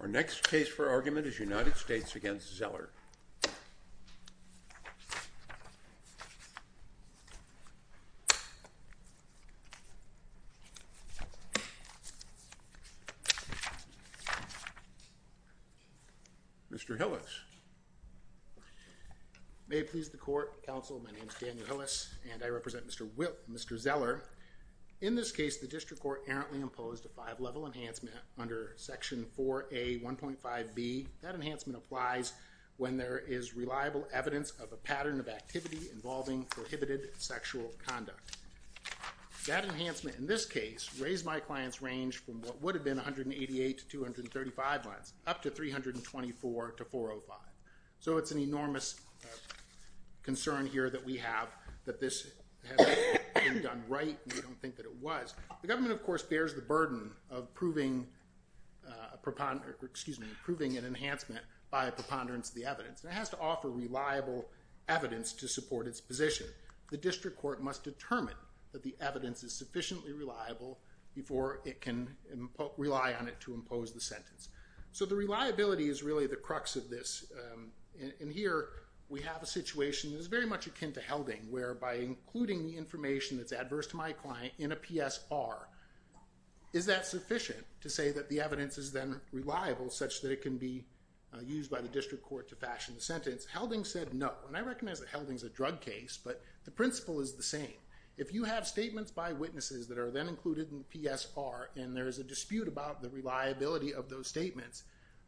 Our next case for argument is United States v. Zeller. Mr. Hillis. May it please the Court, Counsel, my name is Daniel Hillis, and I represent Mr. Whipp, Mr. Zeller. In this case, the District Court errantly imposed a five-level enhancement under Section 4A.1.5b. That enhancement applies when there is reliable evidence of a pattern of activity involving prohibited sexual conduct. That enhancement in this case raised my client's range from what would have been 188 to 235 months up to 324 to 405. So it's an enormous concern here that we have that this hasn't been done right, and we don't think that it was. The government, of course, bears the burden of proving an enhancement by a preponderance of the evidence, and it has to offer reliable evidence to support its position. The District Court must determine that the evidence is sufficiently reliable before it can rely on it to impose the sentence. So the reliability is really the crux of this, and here we have a situation that is very much akin to Helding, where by including the information that's adverse to my client in a PSR, is that sufficient to say that the evidence is then reliable such that it can be used by the District Court to fashion the sentence? Helding said no, and I recognize that Helding's a drug case, but the principle is the same. If you have statements by witnesses that are then included in the PSR, and there is a dispute about the reliability of those statements,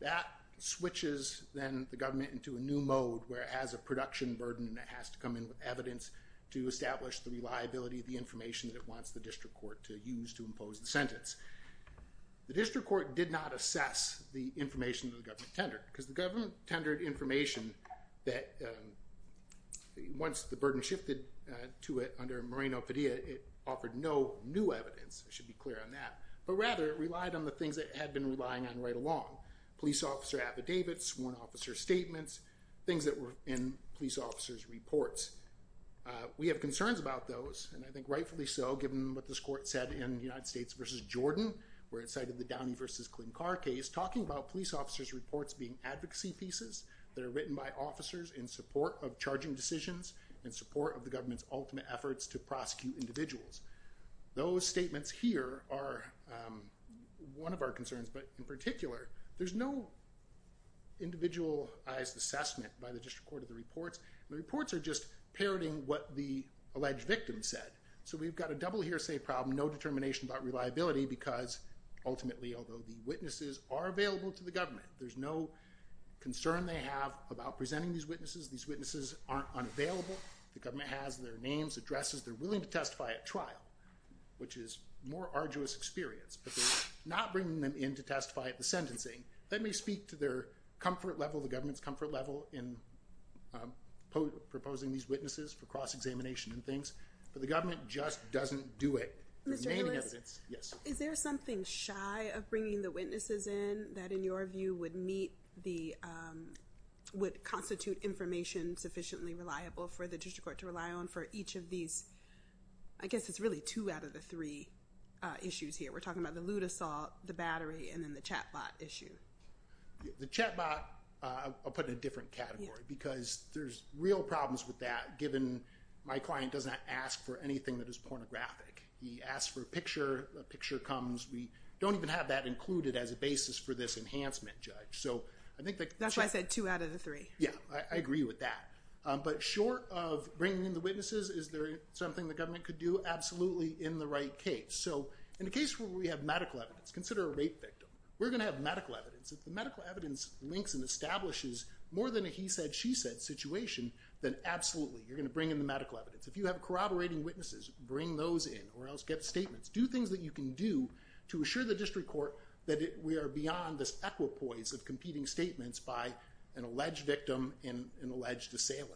that switches then the government into a new mode where it has a production burden and it has to come in with evidence to establish the reliability of the information that it wants the District Court to use to impose the sentence. The District Court did not assess the information that the government tendered, because the government tendered information that once the burden shifted to it under Moreno-Fadilla, it offered no new evidence. I should be clear on that. But rather, it relied on the things that it had been relying on right along. Police officer affidavits, sworn officer statements, things that were in police officers' reports. We have concerns about those, and I think rightfully so, given what this court said in United States v. Jordan, where it cited the Downey v. Klinkar case, talking about police officers' reports being advocacy pieces that are written by officers in support of charging decisions, in support of the government's ultimate efforts to prosecute individuals. Those statements here are one of our concerns, but in particular, there's no individualized assessment by the District Court of the reports. The reports are just parroting what the alleged victim said. So we've got a double hearsay problem, no determination about reliability, because ultimately, although the witnesses are available to the government, there's no concern they have about presenting these witnesses. These witnesses aren't unavailable. The government has their names, addresses. They're willing to testify at trial, which is a more arduous experience, but they're not bringing them in to testify at the sentencing. They may speak to their comfort level, the government's comfort level, in proposing these witnesses for cross-examination and things, but the government just doesn't do it. Mr. Lewis, is there something shy of bringing the witnesses in that, in your view, would constitute information sufficiently reliable for the District Court to rely on for each of these? I guess it's really two out of the three issues here. We're talking about the loot assault, the battery, and then the chatbot issue. The chatbot, I'll put it in a different category, because there's real problems with that, given my client does not ask for anything that is pornographic. He asks for a picture, a picture comes. We don't even have that included as a basis for this enhancement, Judge. That's why I said two out of the three. Yeah, I agree with that. But short of bringing in the witnesses, is there something the government could do? Absolutely, in the right case. In a case where we have medical evidence, consider a rape victim. We're going to have medical evidence. If the medical evidence links and establishes more than a he said, she said situation, then absolutely, you're going to bring in the medical evidence. If you have corroborating witnesses, bring those in, or else get statements. Do things that you can do to assure the District Court that we are beyond this equipoise of competing statements by an alleged victim and an alleged assailant.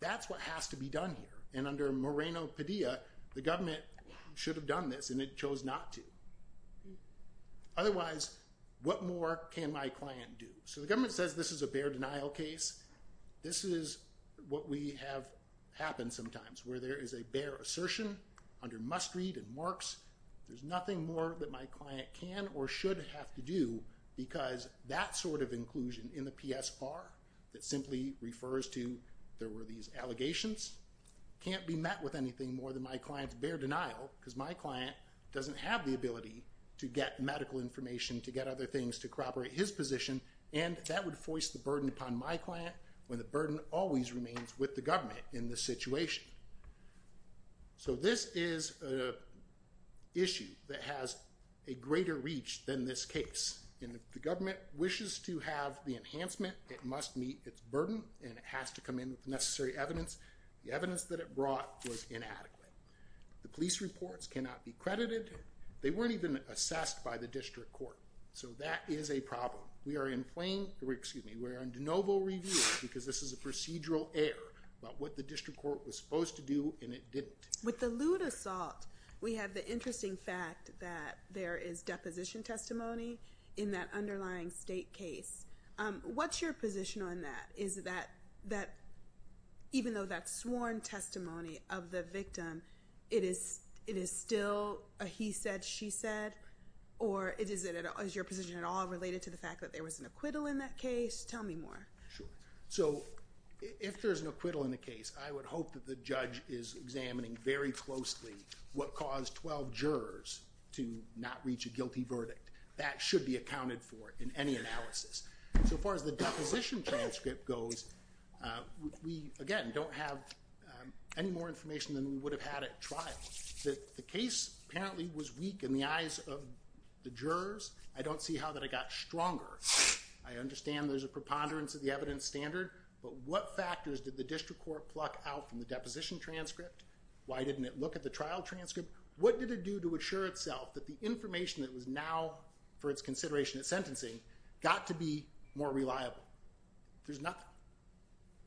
That's what has to be done here. And under Moreno-Padilla, the government should have done this, and it chose not to. Otherwise, what more can my client do? So the government says this is a bare denial case. This is what we have happen sometimes, where there is a bare assertion under must read and marks. There's nothing more that my client can or should have to do because that sort of inclusion in the PSR that simply refers to there were these allegations can't be met with anything more than my client's bare denial because my client doesn't have the ability to get medical information, to get other things, to corroborate his position. And that would force the burden upon my client when the burden always remains with the government in this situation. So this is an issue that has a greater reach than this case. And if the government wishes to have the enhancement, it must meet its burden, and it has to come in with the necessary evidence. The evidence that it brought was inadequate. The police reports cannot be credited. They weren't even assessed by the District Court. So that is a problem. We are in de novo review because this is a procedural error about what the District Court was supposed to do, and it didn't. With the lewd assault, we have the interesting fact that there is deposition testimony in that underlying state case. What's your position on that? Is that even though that's sworn testimony of the victim, it is still a he said, she said? Or is your position at all related to the fact that there was an acquittal in that case? Tell me more. So if there's an acquittal in the case, I would hope that the judge is examining very closely what caused 12 jurors to not reach a guilty verdict. That should be accounted for in any analysis. So far as the deposition transcript goes, we, again, don't have any more information than we would have had at trial. The case apparently was weak in the eyes of the jurors. I don't see how that I got stronger. I understand there's a preponderance of the evidence standard, but what factors did the District Court pluck out from the deposition transcript? Why didn't it look at the trial transcript? What did it do to assure itself that the information that was now for its consideration at sentencing got to be more reliable? There's nothing.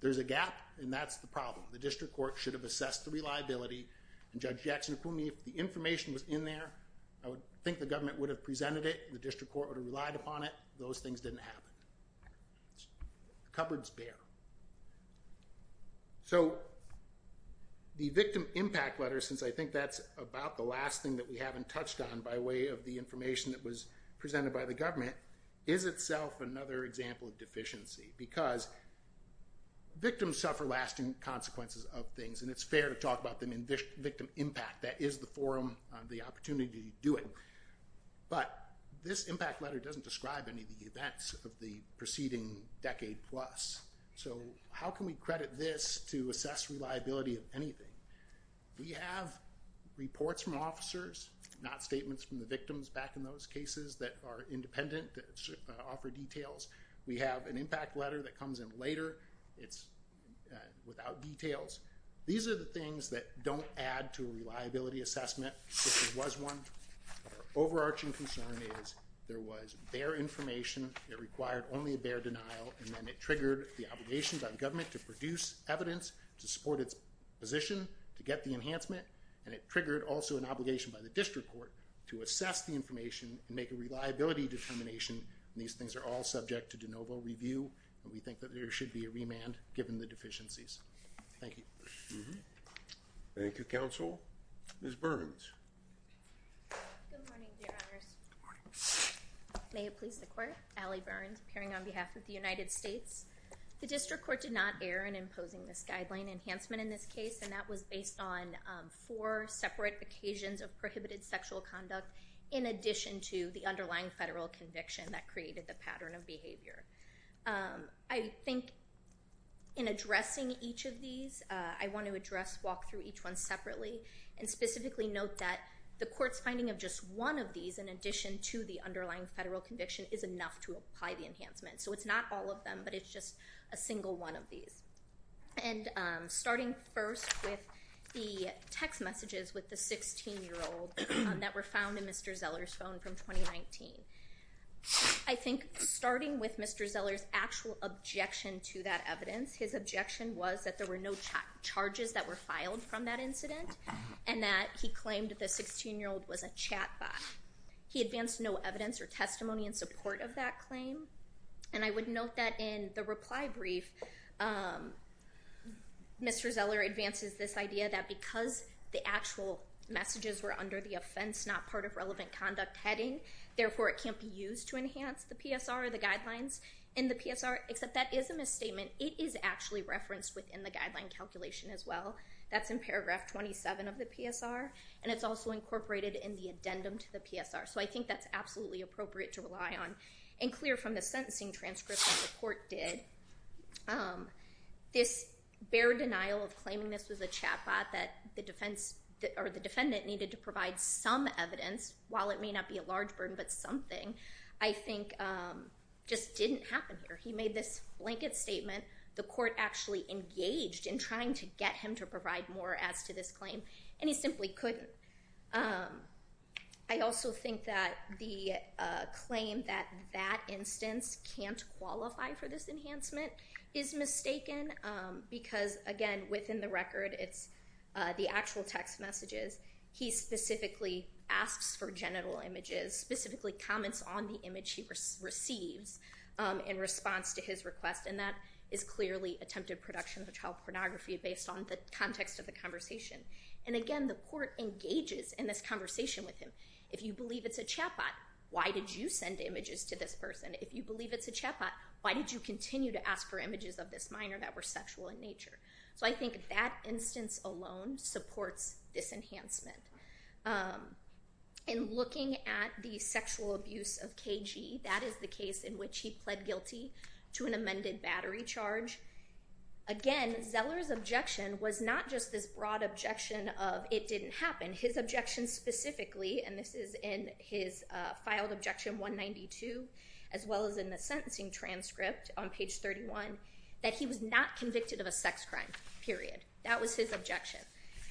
There's a gap, and that's the problem. The District Court should have assessed the reliability, and Judge Jackson told me if the information was in there, I would think the government would have presented it. The District Court would have relied upon it. Those things didn't happen. Cupboard's bare. So the victim impact letter, since I think that's about the last thing that we haven't touched on by way of the information that was presented by the government, is itself another example of deficiency because victims suffer lasting consequences of things, and it's fair to talk about them in victim impact. That is the forum, the opportunity to do it, but this impact letter doesn't describe any of the events of the preceding decade plus. So how can we credit this to assess reliability of anything? We have reports from officers, not statements from the victims back in those cases that are independent, that offer details. We have an impact letter that comes in later. It's without details. These are the things that don't add to a reliability assessment. This was one. Our overarching concern is there was bare information. It required only a bare denial, and then it triggered the obligation by the government to produce evidence to support its position to get the enhancement, and it triggered also an obligation by the District Court to assess the information and make a reliability determination, and these things are all subject to de novo review, and we think that there should be a remand given the deficiencies. Thank you. Thank you, Counsel. Ms. Burns. Good morning, Your Honors. Good morning. May it please the Court. Allie Burns, appearing on behalf of the United States. The District Court did not err in imposing this guideline enhancement in this case, and that was based on four separate occasions of prohibited sexual conduct in addition to the underlying federal conviction that created the pattern of behavior. I think in addressing each of these, I want to address, walk through each one separately and specifically note that the Court's finding of just one of these in addition to the underlying federal conviction is enough to apply the enhancement. So it's not all of them, but it's just a single one of these. And starting first with the text messages with the 16-year-old that were found in Mr. Zeller's phone from 2019, I think starting with Mr. Zeller's actual objection to that evidence, his objection was that there were no charges that were filed from that incident and that he claimed the 16-year-old was a chat bot. He advanced no evidence or testimony in support of that claim. And I would note that in the reply brief, Mr. Zeller advances this idea that because the actual messages were under the offense, not part of relevant conduct heading, therefore it can't be used to enhance the PSR or the guidelines in the PSR, except that is a misstatement. It is actually referenced within the guideline calculation as well. That's in paragraph 27 of the PSR, and it's also incorporated in the addendum to the PSR. So I think that's absolutely appropriate to rely on and clear from the sentencing transcript that the Court did. This bare denial of claiming this was a chat bot that the defendant needed to provide some evidence, while it may not be a large burden but something, I think just didn't happen here. He made this blanket statement. The Court actually engaged in trying to get him to provide more as to this claim, and he simply couldn't. I also think that the claim that that instance can't qualify for this enhancement is mistaken because, again, within the record, it's the actual text messages. He specifically asks for genital images, specifically comments on the image he receives in response to his request, and that is clearly attempted production of child pornography based on the context of the conversation. And, again, the Court engages in this conversation with him. If you believe it's a chat bot, why did you send images to this person? If you believe it's a chat bot, why did you continue to ask for images of this minor that were sexual in nature? So I think that instance alone supports this enhancement. In looking at the sexual abuse of KG, that is the case in which he pled guilty to an amended battery charge. Again, Zeller's objection was not just this broad objection of it didn't happen. His objection specifically, and this is in his filed objection 192, as well as in the sentencing transcript on page 31, that he was not convicted of a sex crime, period. That was his objection.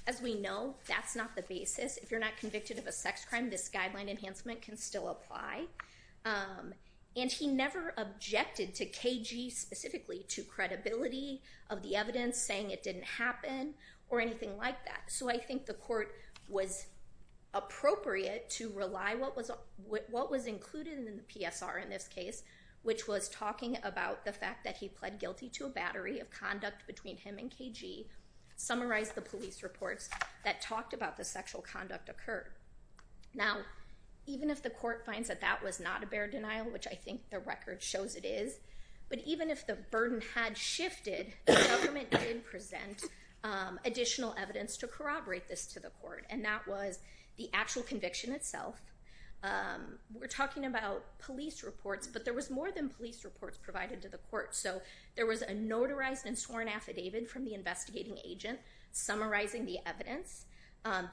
As we know, that's not the basis. If you're not convicted of a sex crime, this guideline enhancement can still apply. And he never objected to KG specifically, to credibility of the evidence saying it didn't happen or anything like that. So I think the Court was appropriate to rely what was included in the PSR in this case, which was talking about the fact that he pled guilty to a battery of conduct between him and KG, summarized the police reports that talked about the sexual conduct occurred. Now, even if the Court finds that that was not a bare denial, which I think the record shows it is, but even if the burden had shifted, the government did present additional evidence to corroborate this to the Court, and that was the actual conviction itself. We're talking about police reports, but there was more than police reports provided to the Court. So there was a notarized and sworn affidavit from the investigating agent summarizing the evidence.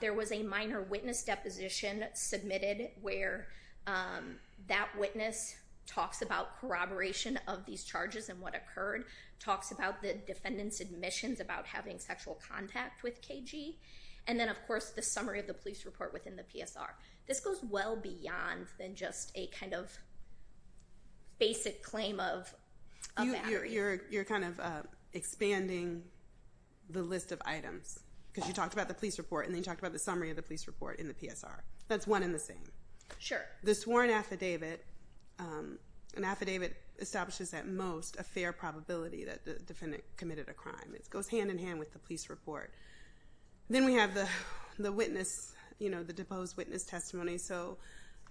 There was a minor witness deposition submitted where that witness talks about corroboration of these charges and what occurred, talks about the defendant's admissions about having sexual contact with KG, and then, of course, the summary of the police report within the PSR. This goes well beyond than just a kind of basic claim of a battery. You're kind of expanding the list of items because you talked about the police report and then you talked about the summary of the police report in the PSR. That's one and the same. Sure. The sworn affidavit, an affidavit establishes at most a fair probability that the defendant committed a crime. It goes hand-in-hand with the police report. Then we have the witness, the deposed witness testimony. So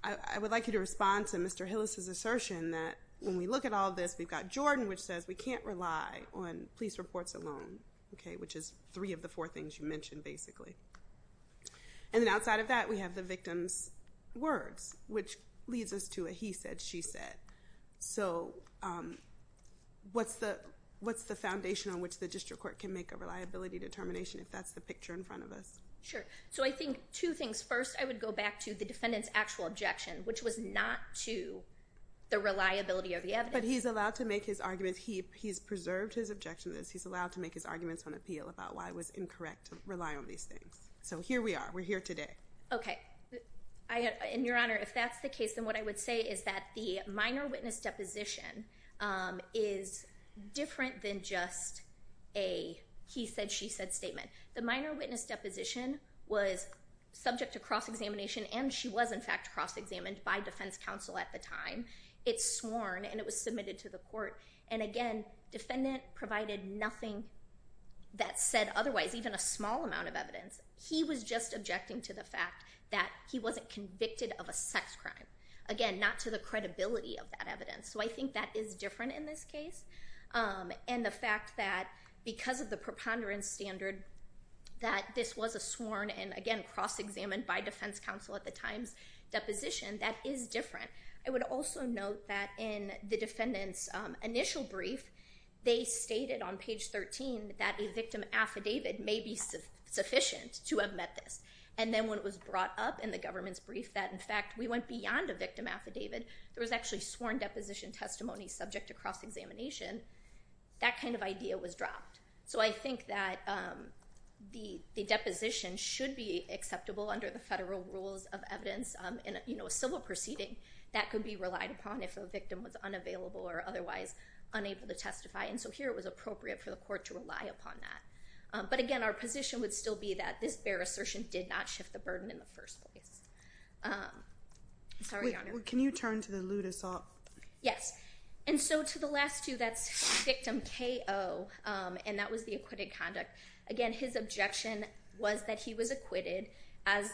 I would like you to respond to Mr. Hillis' assertion that when we look at all this, we've got Jordan, which says we can't rely on police reports alone, which is three of the four things you mentioned, basically. And then outside of that, we have the victim's words, which leads us to a he said, she said. So what's the foundation on which the district court can make a reliability determination if that's the picture in front of us? Sure. So I think two things. First, I would go back to the defendant's actual objection, which was not to the reliability of the evidence. But he's allowed to make his arguments. He's preserved his objection. He's allowed to make his arguments on appeal about why it was incorrect to rely on these things. So here we are. We're here today. Okay. Your Honor, if that's the case, then what I would say is that the minor witness deposition is different than just a he said, she said statement. The minor witness deposition was subject to cross-examination, and she was, in fact, cross-examined by defense counsel at the time. It's sworn, and it was submitted to the court. And again, defendant provided nothing that said otherwise, even a small amount of evidence. He was just objecting to the fact that he wasn't convicted of a sex crime. Again, not to the credibility of that evidence. So I think that is different in this case. And the fact that because of the preponderance standard that this was a sworn and, again, cross-examined by defense counsel at the time's deposition, that is different. I would also note that in the defendant's initial brief, they stated on page 13 that a victim affidavit may be sufficient to have met this. And then when it was brought up in the government's brief that, in fact, we went beyond a victim affidavit, there was actually sworn deposition testimony subject to cross-examination, that kind of idea was dropped. So I think that the deposition should be acceptable under the federal rules of evidence. In a civil proceeding, that could be relied upon if a victim was unavailable or otherwise unable to testify. And so here it was appropriate for the court to rely upon that. But, again, our position would still be that this bare assertion did not shift the burden in the first place. Sorry, Your Honor. Can you turn to the lewd assault? Yes. And so to the last two, that's victim KO, and that was the acquitted conduct. Again, his objection was that he was acquitted, and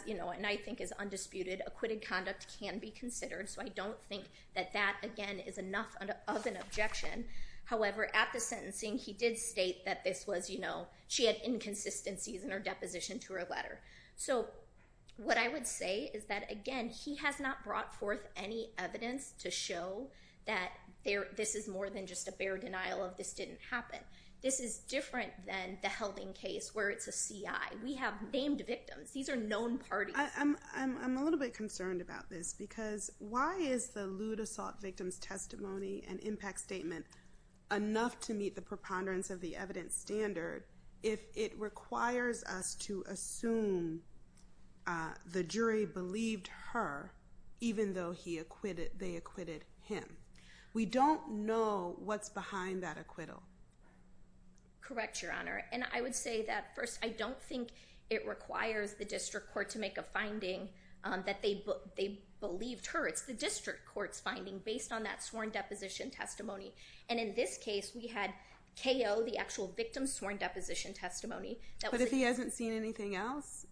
I think is undisputed. Acquitted conduct can be considered, so I don't think that that, again, is enough of an objection. However, at the sentencing, he did state that this was, you know, she had inconsistencies in her deposition to her letter. So what I would say is that, again, he has not brought forth any evidence to show that this is more than just a bare denial of this didn't happen. This is different than the Helding case where it's a CI. We have named victims. These are known parties. I'm a little bit concerned about this because why is the lewd assault victim's testimony and impact statement enough to meet the preponderance of the evidence standard if it requires us to assume the jury believed her even though they acquitted him? We don't know what's behind that acquittal. Correct, Your Honor. And I would say that, first, I don't think it requires the district court to make a finding that they believed her. It's the district court's finding based on that sworn deposition testimony. And in this case, we had KO, the actual victim's sworn deposition testimony. But if he hasn't seen anything else?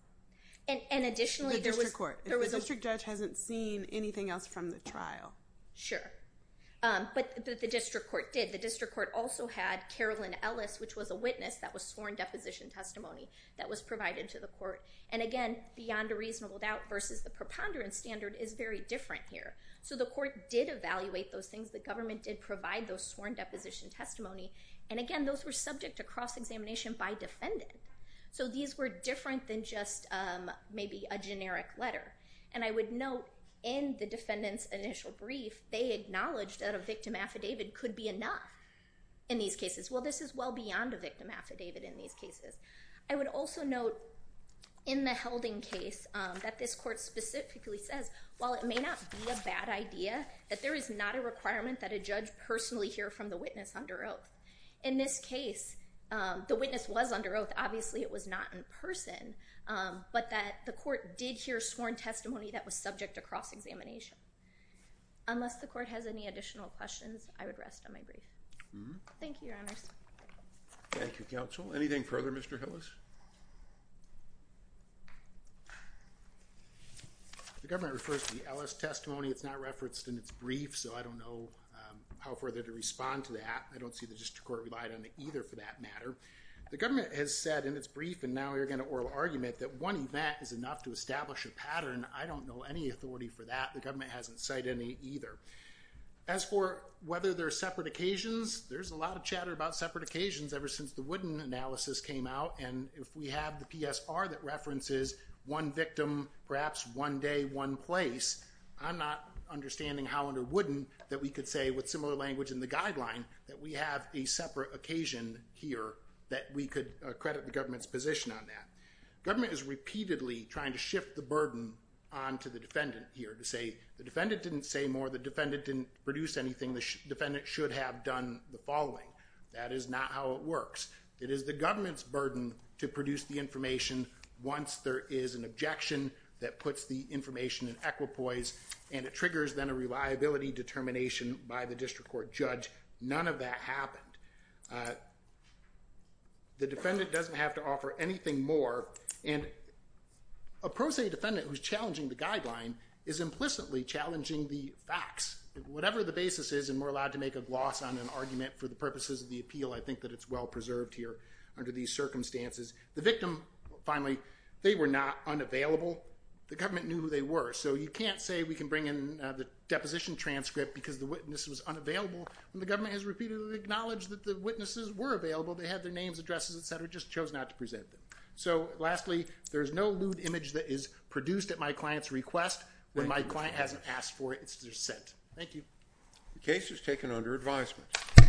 And additionally, there was— The district court. If the district judge hasn't seen anything else from the trial. Sure. But the district court did. The district court also had Carolyn Ellis, which was a witness that was sworn deposition testimony that was provided to the court. And, again, beyond a reasonable doubt versus the preponderance standard is very different here. So the court did evaluate those things. The government did provide those sworn deposition testimony. And, again, those were subject to cross-examination by defendant. So these were different than just maybe a generic letter. And I would note, in the defendant's initial brief, they acknowledged that a victim affidavit could be enough in these cases. Well, this is well beyond a victim affidavit in these cases. I would also note, in the Helding case, that this court specifically says, while it may not be a bad idea, that there is not a requirement that a judge personally hear from the witness under oath. In this case, the witness was under oath. Obviously, it was not in person, but that the court did hear sworn testimony that was subject to cross-examination. Unless the court has any additional questions, I would rest on my brief. Thank you, Your Honors. Thank you, Counsel. Anything further, Mr. Hillis? The government refers to the Ellis testimony. It's not referenced in its brief, so I don't know how further to respond to that. I don't see the district court relied on it either, for that matter. The government has said in its brief, and now you're going to oral argument, that one event is enough to establish a pattern. I don't know any authority for that. The government hasn't cited any either. As for whether there are separate occasions, there's a lot of chatter about separate occasions ever since the Wooden analysis came out. If we have the PSR that references one victim, perhaps one day, one place, I'm not understanding how under Wooden that we could say, with similar language in the guideline, that we have a separate occasion here that we could credit the government's position on that. Government is repeatedly trying to shift the burden onto the defendant here to say, the defendant didn't say more, the defendant didn't produce anything, the defendant should have done the following. That is not how it works. It is the government's burden to produce the information once there is an objection that puts the information in equipoise, and it triggers then a reliability determination by the district court judge. None of that happened. The defendant doesn't have to offer anything more, and a pro se defendant who's challenging the guideline is implicitly challenging the facts. Whatever the basis is, and we're allowed to make a gloss on an argument for the purposes of the appeal, I think that it's well preserved here under these circumstances. The victim, finally, they were not unavailable. The government knew who they were, so you can't say we can bring in the deposition transcript because the witness was unavailable. The government has repeatedly acknowledged that the witnesses were available. They had their names, addresses, et cetera, just chose not to present them. So lastly, there's no lewd image that is produced at my client's request when my client hasn't asked for it, it's just sent. Thank you. The case is taken under advisement.